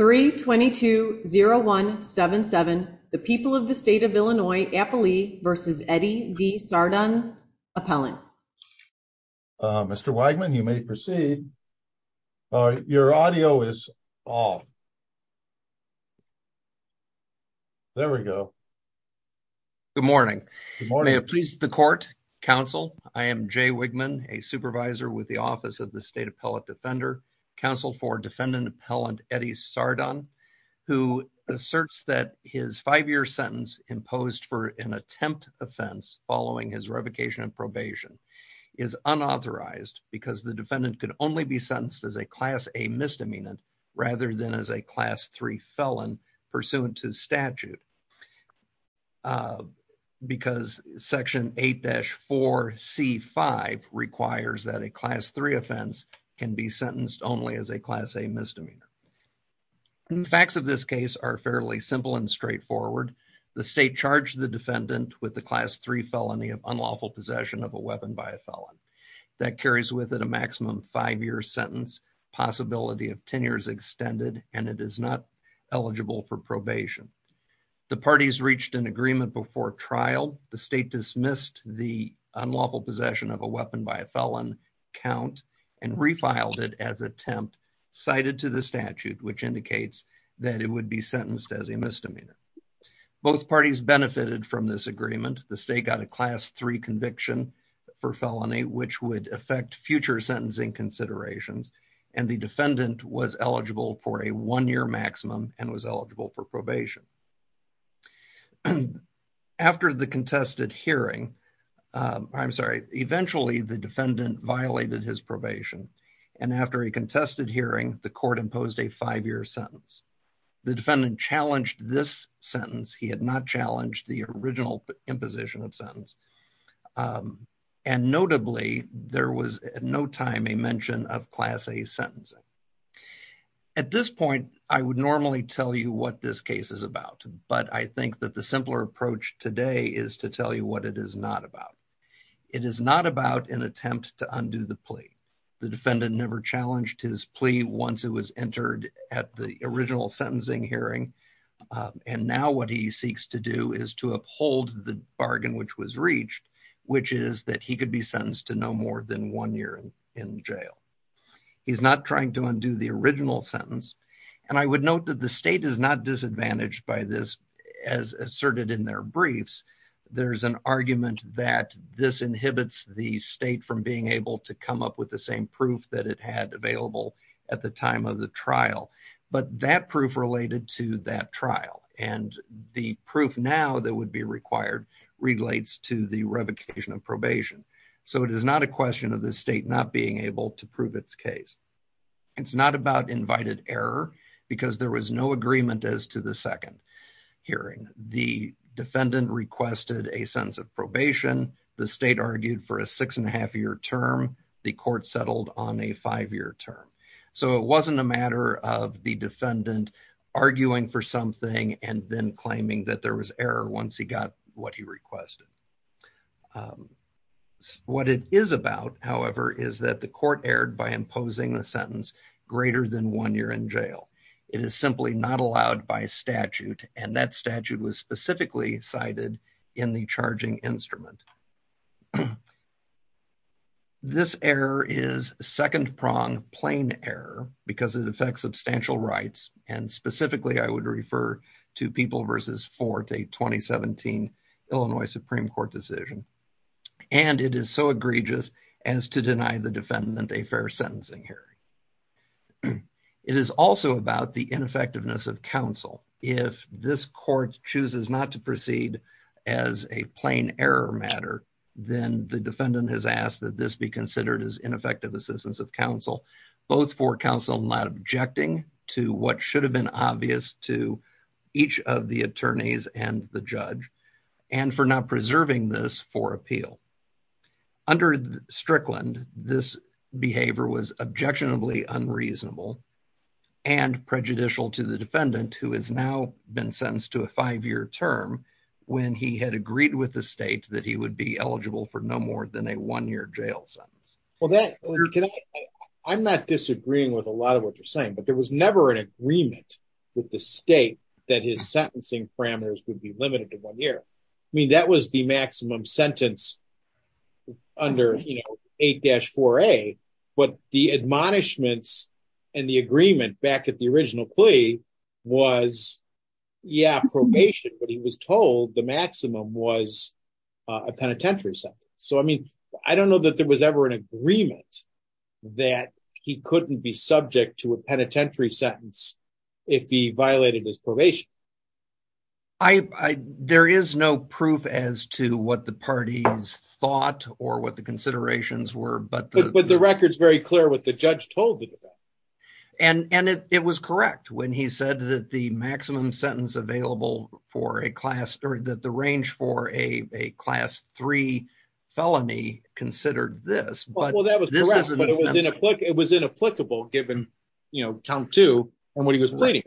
3220177 the people of the state of Illinois Appalee vs. Eddie D. Sardon, appellant. Mr. Wegman, you may proceed. Your audio is off. There we go. Good morning. Good morning. Please the court, counsel. I am Jay Wegman, a supervisor with the Office of the State Appellate Defender, counsel for defendant appellant Eddie Sardon, who asserts that his five-year sentence imposed for an attempt offense following his revocation and probation is unauthorized because the defendant could only be sentenced as a Class A misdemeanor rather than as a Class 3 felon pursuant to statute because Section 8-4C5 requires that a Class 3 offense can be sentenced only as a Class A misdemeanor. The facts of this case are fairly simple and straightforward. The state charged the defendant with the Class 3 felony of unlawful possession of a weapon by a felon. That carries with it a maximum five-year sentence, possibility of 10 years extended, and it is not eligible for probation. The parties reached an agreement before trial. The state dismissed the unlawful possession of a weapon by a felon count and refiled it as attempt cited to the statute, which indicates that it would be sentenced as a misdemeanor. Both parties benefited from this agreement. The state got a Class 3 conviction for felony, which would affect future sentencing considerations, and the defendant was eligible for a one-year maximum and was eligible for probation. After the contested hearing, I'm sorry, eventually the defendant violated his probation, and after a contested hearing, the court imposed a five-year sentence. The defendant challenged this sentence. He had not challenged the original imposition of sentence, and notably, there was at no time a mention of Class A sentencing. At this point, I would normally tell you what this case is about, but I think that the simpler approach today is to tell you what it is not about. It is not about an attempt to undo the plea. The defendant never challenged his plea once it was entered at the original sentencing hearing, and now what he seeks to do is to uphold the bargain which was reached, which is that he could be sentenced to no more than one year in jail. He's not trying to undo the original sentence, and I would note that the state is not disadvantaged by this as asserted in their briefs. There's an argument that this inhibits the state from being able to come up with the same proof that it had available at the time of the trial, but that proof related to that probation, so it is not a question of the state not being able to prove its case. It's not about invited error because there was no agreement as to the second hearing. The defendant requested a sense of probation. The state argued for a six-and-a-half-year term. The court settled on a five-year term, so it wasn't a matter of the defendant arguing for something and then claiming that there was error once he got what he requested. What it is about, however, is that the court erred by imposing the sentence greater than one year in jail. It is simply not allowed by statute, and that statute was specifically cited in the charging instrument. This error is second-pronged plain error because it affects substantial rights, and specifically I would refer to People v. Fort, a 2017 Illinois Supreme Court decision, and it is so egregious as to deny the defendant a fair sentencing hearing. It is also about the ineffectiveness of counsel. If this court chooses not to proceed as a plain error matter, then the defendant has asked that this be considered as ineffective assistance of counsel, both for counsel not objecting to what should have been obvious to each of the attorneys and the judge, and for not preserving this for appeal. Under Strickland, this behavior was objectionably unreasonable and prejudicial to the defendant who has now been sentenced to a five-year term when he had agreed with the state that he would be eligible for no more than a one-year jail sentence. Well, I'm not disagreeing with a lot of what you're saying, but there was never an agreement with the state that his sentencing parameters would be limited to one year. I mean, that was the maximum sentence under, you know, 8-4A, but the admonishments and the agreement back at the original plea was, yeah, probation, but he was told the maximum was a penitentiary sentence. So, I mean, I don't know that there was ever an agreement that he couldn't be subject to a penitentiary sentence if he violated his probation. There is no proof as to what the parties thought or what the considerations were, but the record's very clear what the judge told the defense. And it was correct when he said that the maximum sentence available for a class, or that the range for a class three felony considered this, but it was inapplicable given, you know, count two when he was pleading.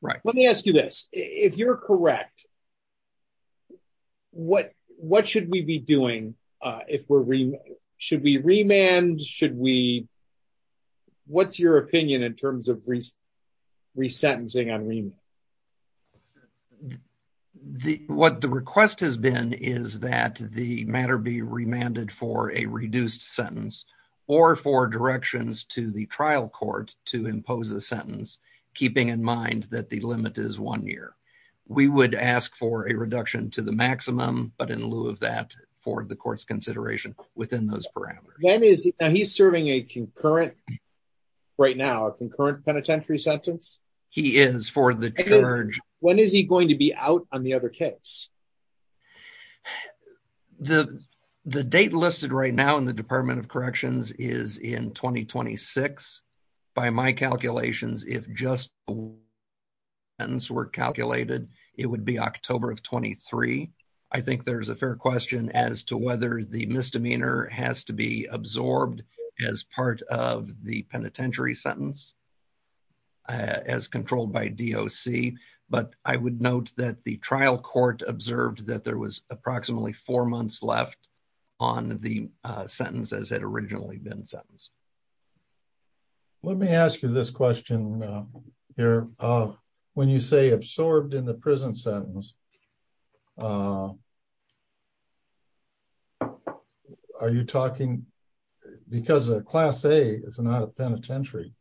Let me ask you this. If you're correct, what should we be doing? Should we remand? What's your opinion in terms of resentencing on remand? The, what the request has been is that the matter be remanded for a reduced sentence or for directions to the trial court to impose a sentence, keeping in mind that the limit is one year. We would ask for a reduction to the maximum, but in lieu of that, for the court's consideration within those parameters. Now, he's serving a concurrent, right now, concurrent penitentiary sentence. He is for the charge. When is he going to be out on the other case? The, the date listed right now in the Department of Corrections is in 2026. By my calculations, if just the sentence were calculated, it would be October of 23. I think there's a fair question as to whether the misdemeanor has to be absorbed as part of the penitentiary sentence as controlled by DOC, but I would note that the trial court observed that there was approximately four months left on the sentence as it originally been sentenced. Let me ask you this question here. When you say absorbed in the prison sentence, uh, are you talking because a Class A is not a penitentiary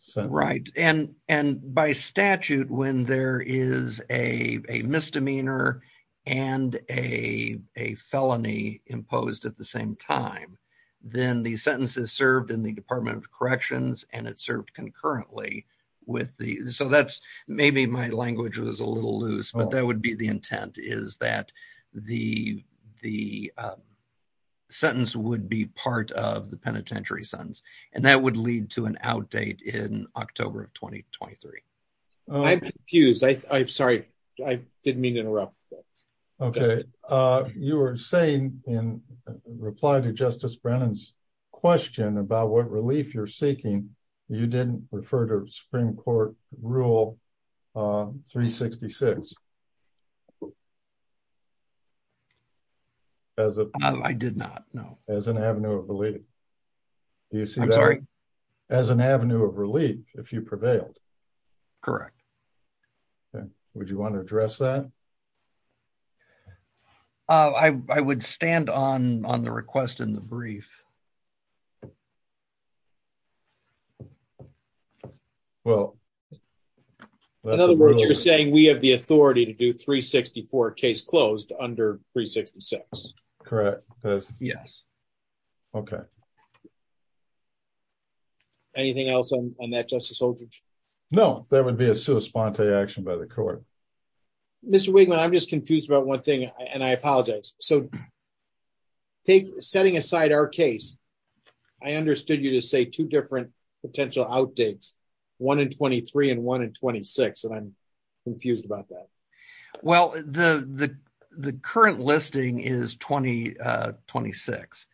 sentence? Right, and, and by statute, when there is a misdemeanor and a, a felony imposed at the same time, then the sentences served in the Department of Corrections and it served concurrently with the, so that's, maybe my language was a little loose, but that would be the intent is that the, the sentence would be part of the penitentiary sentence and that would lead to an outdate in October of 2023. I'm confused. I, I'm sorry. I didn't mean to interrupt. Okay. Uh, you were saying in reply to Justice Brennan's question about what relief you're seeking. You didn't refer to Supreme Court rule, uh, 366 as a, I did not know as an avenue of belief. Do you see that as an avenue of relief if you prevailed? Correct. Okay. Would you want to address that? Uh, I, I would stand on, on the request in the brief. Okay. Well, in other words, you're saying we have the authority to do 364 case closed under 366. Correct. Yes. Okay. Anything else on that justice? No, that would be a sui sponte action by the court. Mr. Wigman, I'm just confused about one thing and I apologize. So setting aside our case, I understood you to say two different potential outdates, one in 23 and one in 26. And I'm confused about that. Well, the, the, the current listing is 20, uh, 26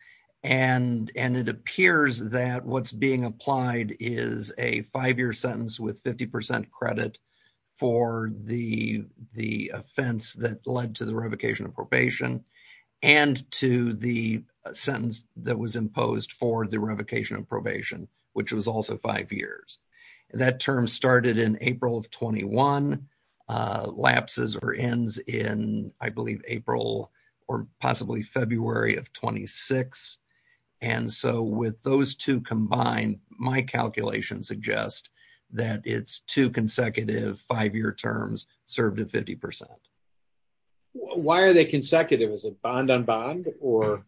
and, and it appears that what's being applied is a five-year sentence with 50% credit for the, the offense that led to the revocation of probation and to the sentence that was imposed for the revocation of probation, which was also five years. That term started in April of 21, uh, lapses or ends in, I believe, April or possibly February of 26. And so with those two combined, my calculation suggests that it's two consecutive five-year terms served at 50%. Why are they consecutive? Is it bond on bond or?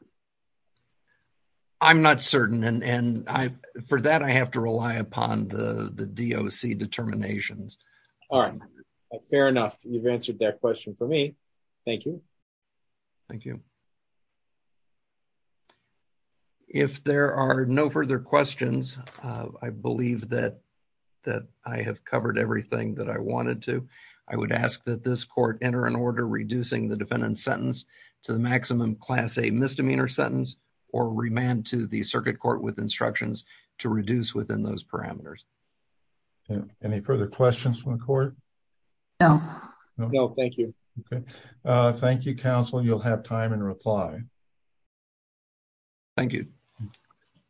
I'm not certain. And, and I, for that, I have to rely upon the, the DOC determinations. All right. Fair enough. You've answered that question for me. Thank you. Thank you. If there are no further questions, uh, I believe that, that I have covered everything that I wanted to, I would ask that this court enter an order reducing the defendant sentence to the maximum class, a misdemeanor sentence, or remand to the circuit court with instructions to reduce within those parameters. Yeah. Any further questions from the court? No. No, thank you. Okay. Uh, thank you, counsel. You'll have time and reply. Thank you.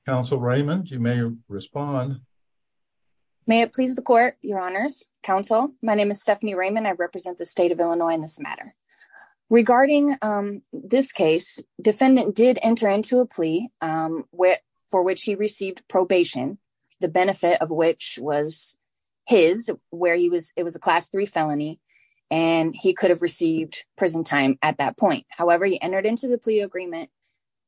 Counsel Raymond, you may respond. May it please the court, your honors, counsel. My name is Stephanie Raymond. I represent the state of Illinois in this matter regarding, um, this case defendant did enter into a plea, um, where, for which he received probation, the benefit of which was his, where he was, it was a class three felony. And he could have received prison time at that point. However, he entered into the plea agreement.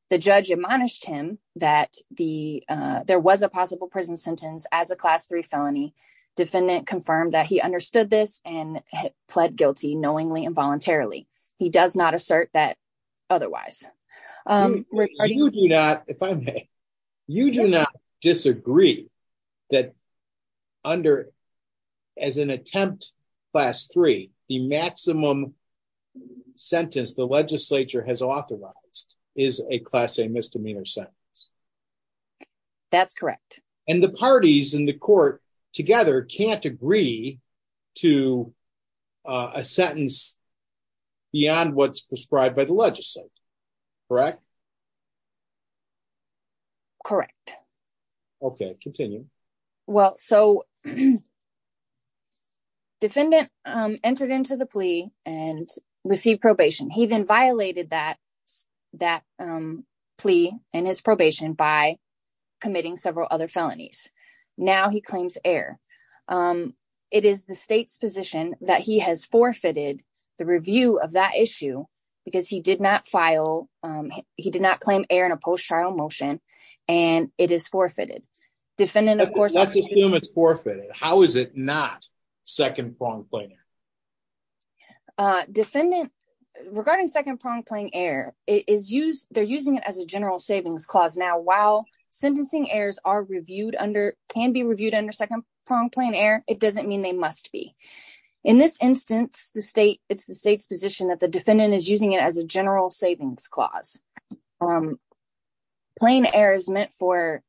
The judge admonished him that the, uh, there was a possible prison sentence as a class three felony defendant confirmed that he understood this and pled guilty knowingly and voluntarily. He does not assert that otherwise. Um, you do not, if I may, you do not disagree that under as an attempt class three, the maximum sentence the legislature has authorized is a class, a misdemeanor sentence. That's correct. And the parties in the court together can't agree to, uh, a sentence beyond what's prescribed by the legislature, correct? Correct. Okay. Continue. Well, so defendant, um, entered into the plea and received probation. He then violated that, that, um, plea and his probation by committing several other felonies. Now he claims air. Um, it is the state's position that he has forfeited the review of that issue because he did not file. Um, he did not claim air in a post-trial motion and it is forfeited defendant. Of course, it's forfeited. How is it not second prong playing? Uh, defendant regarding second prong playing air is used. They're using it as a general clause. Now, while sentencing errors are reviewed under can be reviewed under second prong plane air, it doesn't mean they must be in this instance, the state it's the state's position that the defendant is using it as a general savings clause. Um, plane air is meant for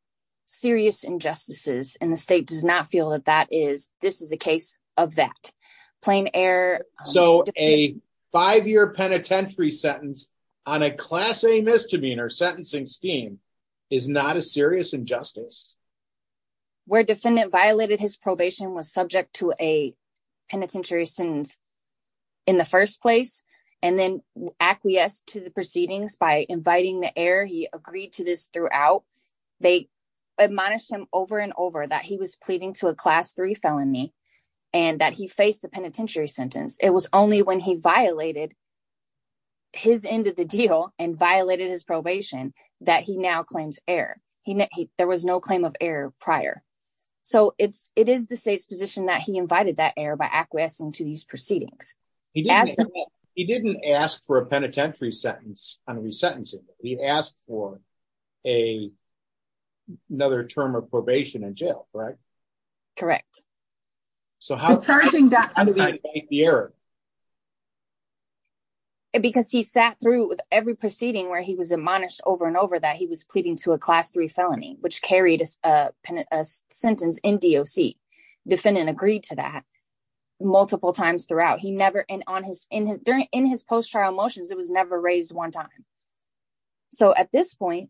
serious injustices and the state does not feel that that is, this is a case of that plane air. So a five-year penitentiary sentence on a class a misdemeanor sentencing scheme is not a serious injustice. Where defendant violated his probation was subject to a penitentiary sentence in the first place. And then acquiesced to the proceedings by inviting the air. He agreed to this throughout. They admonished him over and over that he was pleading to a class three felony and that he faced the penitentiary sentence. It was only when he violated his end of the deal and violated his probation that he now claims air. He, there was no claim of air prior. So it's, it is the state's position that he invited that air by acquiescing to these proceedings. He didn't ask for a penitentiary sentence on resentencing. He asked for a another term of probation and jail, correct? Correct. So how does he make the error? Because he sat through with every proceeding where he was admonished over and over that he was pleading to a class three felony, which carried a sentence in DOC. Defendant agreed to that multiple times throughout. He never, and on his, in his, during, in his post-trial motions, it was never raised one time. So at this point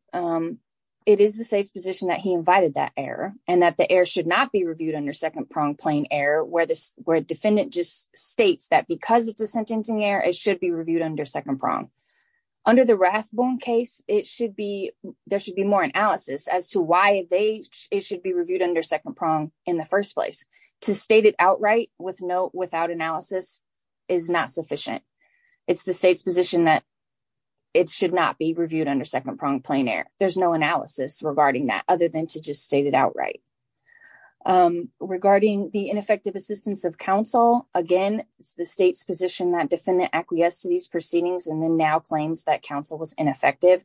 it is the state's position that he invited that air and that the air should not be reviewed under second prong plain air, where this, where defendant just states that because it's a sentencing error, it should be reviewed under second prong. Under the Rathbone case, it should be, there should be more analysis as to why they, it should be reviewed under second prong in the first place. To state it outright with no, without analysis is not sufficient. It's the state's position that it should not be reviewed under second prong plain air. There's no analysis regarding that other than to just state it outright. Regarding the ineffective assistance of counsel, again, it's the state's position that defendant acquiesced to these proceedings and then now claims that counsel was ineffective.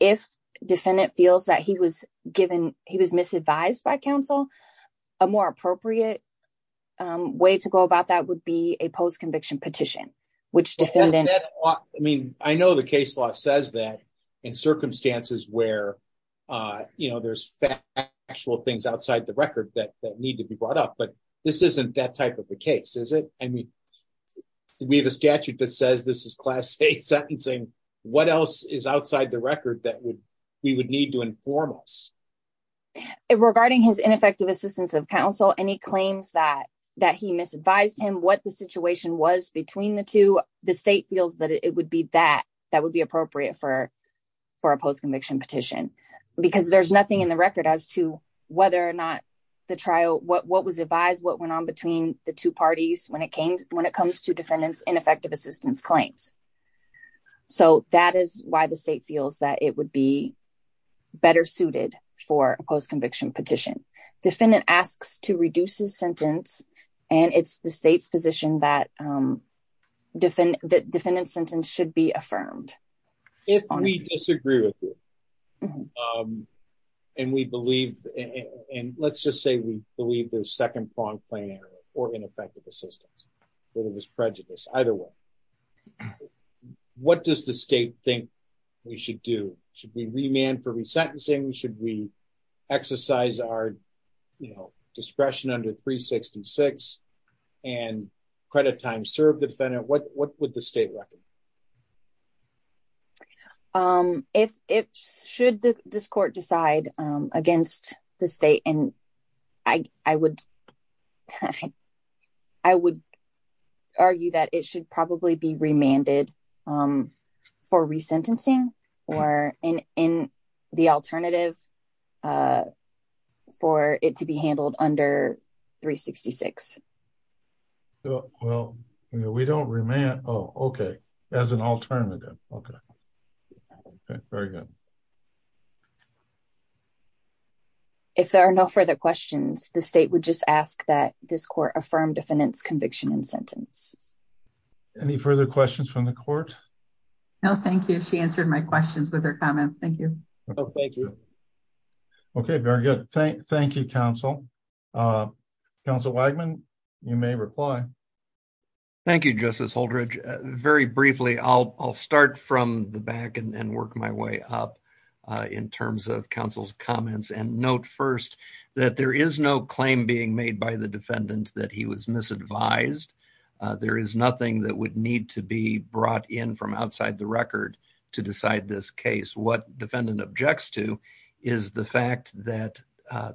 If defendant feels that he was given, he was misadvised by counsel, a more appropriate way to go about that would be a post-conviction petition, which defendant, I mean, I know the case law says that in circumstances where, you know, there's actual things outside the record that need to be brought up, but this isn't that type of a case, is it? I mean, we have a statute that says this is class state sentencing. What else is outside the record that would, we would inform us? Regarding his ineffective assistance of counsel, any claims that, that he misadvised him, what the situation was between the two, the state feels that it would be that, that would be appropriate for, for a post-conviction petition, because there's nothing in the record as to whether or not the trial, what was advised, what went on between the two parties when it came, when it comes to defendants ineffective assistance claims. So that is why the state feels that it would be better suited for a post-conviction petition. Defendant asks to reduce his sentence and it's the state's position that defend, that defendant's sentence should be affirmed. If we disagree with you and we believe, and let's just say we believe there's second pronged plain error or ineffective assistance, whether it was prejudice, either way, what does the state think we should do? Should we remand for resentencing? Should we exercise our, you know, discretion under 366 and credit time serve the defendant? What, what would the state reckon? If, if should this court decide against the state and I, I would, I would argue that it should probably be remanded for resentencing or in, in the alternative for it to be handled under 366. Well, we don't remand. Oh, okay. As an alternative. Okay. Okay. Very good. Okay. If there are no further questions, the state would just ask that this court affirm defendant's conviction and sentence. Any further questions from the court? No, thank you. She answered my questions with her comments. Thank you. Oh, thank you. Okay. Very good. Thank, thank you. Council. Council Wagman, you may reply. Thank you, justice. Holdridge very briefly. I'll, I'll start from the back and work my way up in terms of council's comments and note first that there is no claim being made by the defendant that he was misadvised. There is nothing that would need to be brought in from outside the record to decide this case. What defendant objects to is the fact that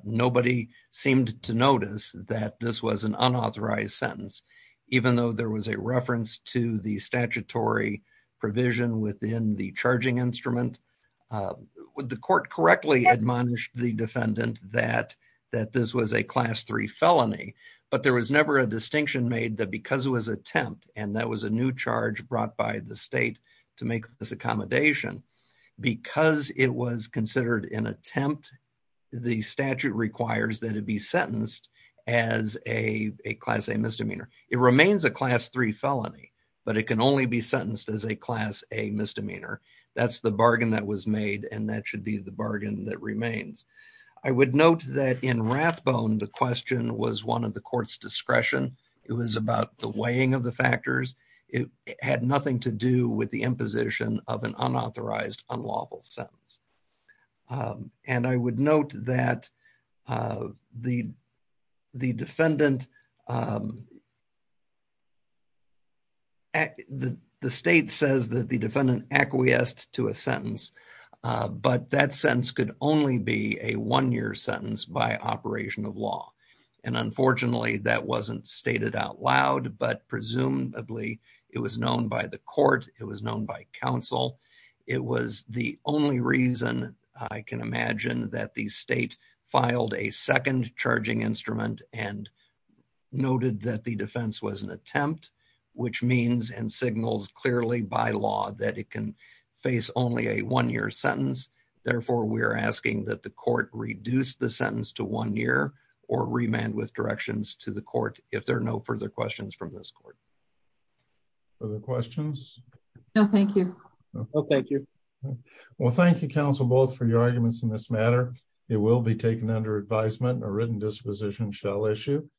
nobody seemed to notice that this was an unauthorized sentence, even though there was a reference to the statutory provision within the charging instrument. Would the court correctly admonish the defendant that, that this was a class three felony, but there was never a distinction made that because it was attempt, and that was a new charge brought by the state to make this accommodation because it was as a, a class, a misdemeanor, it remains a class three felony, but it can only be sentenced as a class, a misdemeanor. That's the bargain that was made. And that should be the bargain that remains. I would note that in Rathbone, the question was one of the court's discretion. It was about the weighing of the factors. It had nothing to do with the imposition of an unauthorized unlawful sentence. And I would note that the defendant, the state says that the defendant acquiesced to a sentence, but that sentence could only be a one-year sentence by operation of law. And unfortunately that wasn't stated out loud, but presumably it was known by the court. It was known by counsel. It was the only reason I can imagine that the state filed a second charging instrument and noted that the defense was an attempt, which means and signals clearly by law that it can face only a one-year sentence. Therefore, we're asking that the court reduce the sentence to one year or remand with directions to court if there are no further questions from this court. Other questions? No, thank you. Well, thank you, counsel, both for your arguments in this matter. It will be taken under advisement and a written disposition shall issue.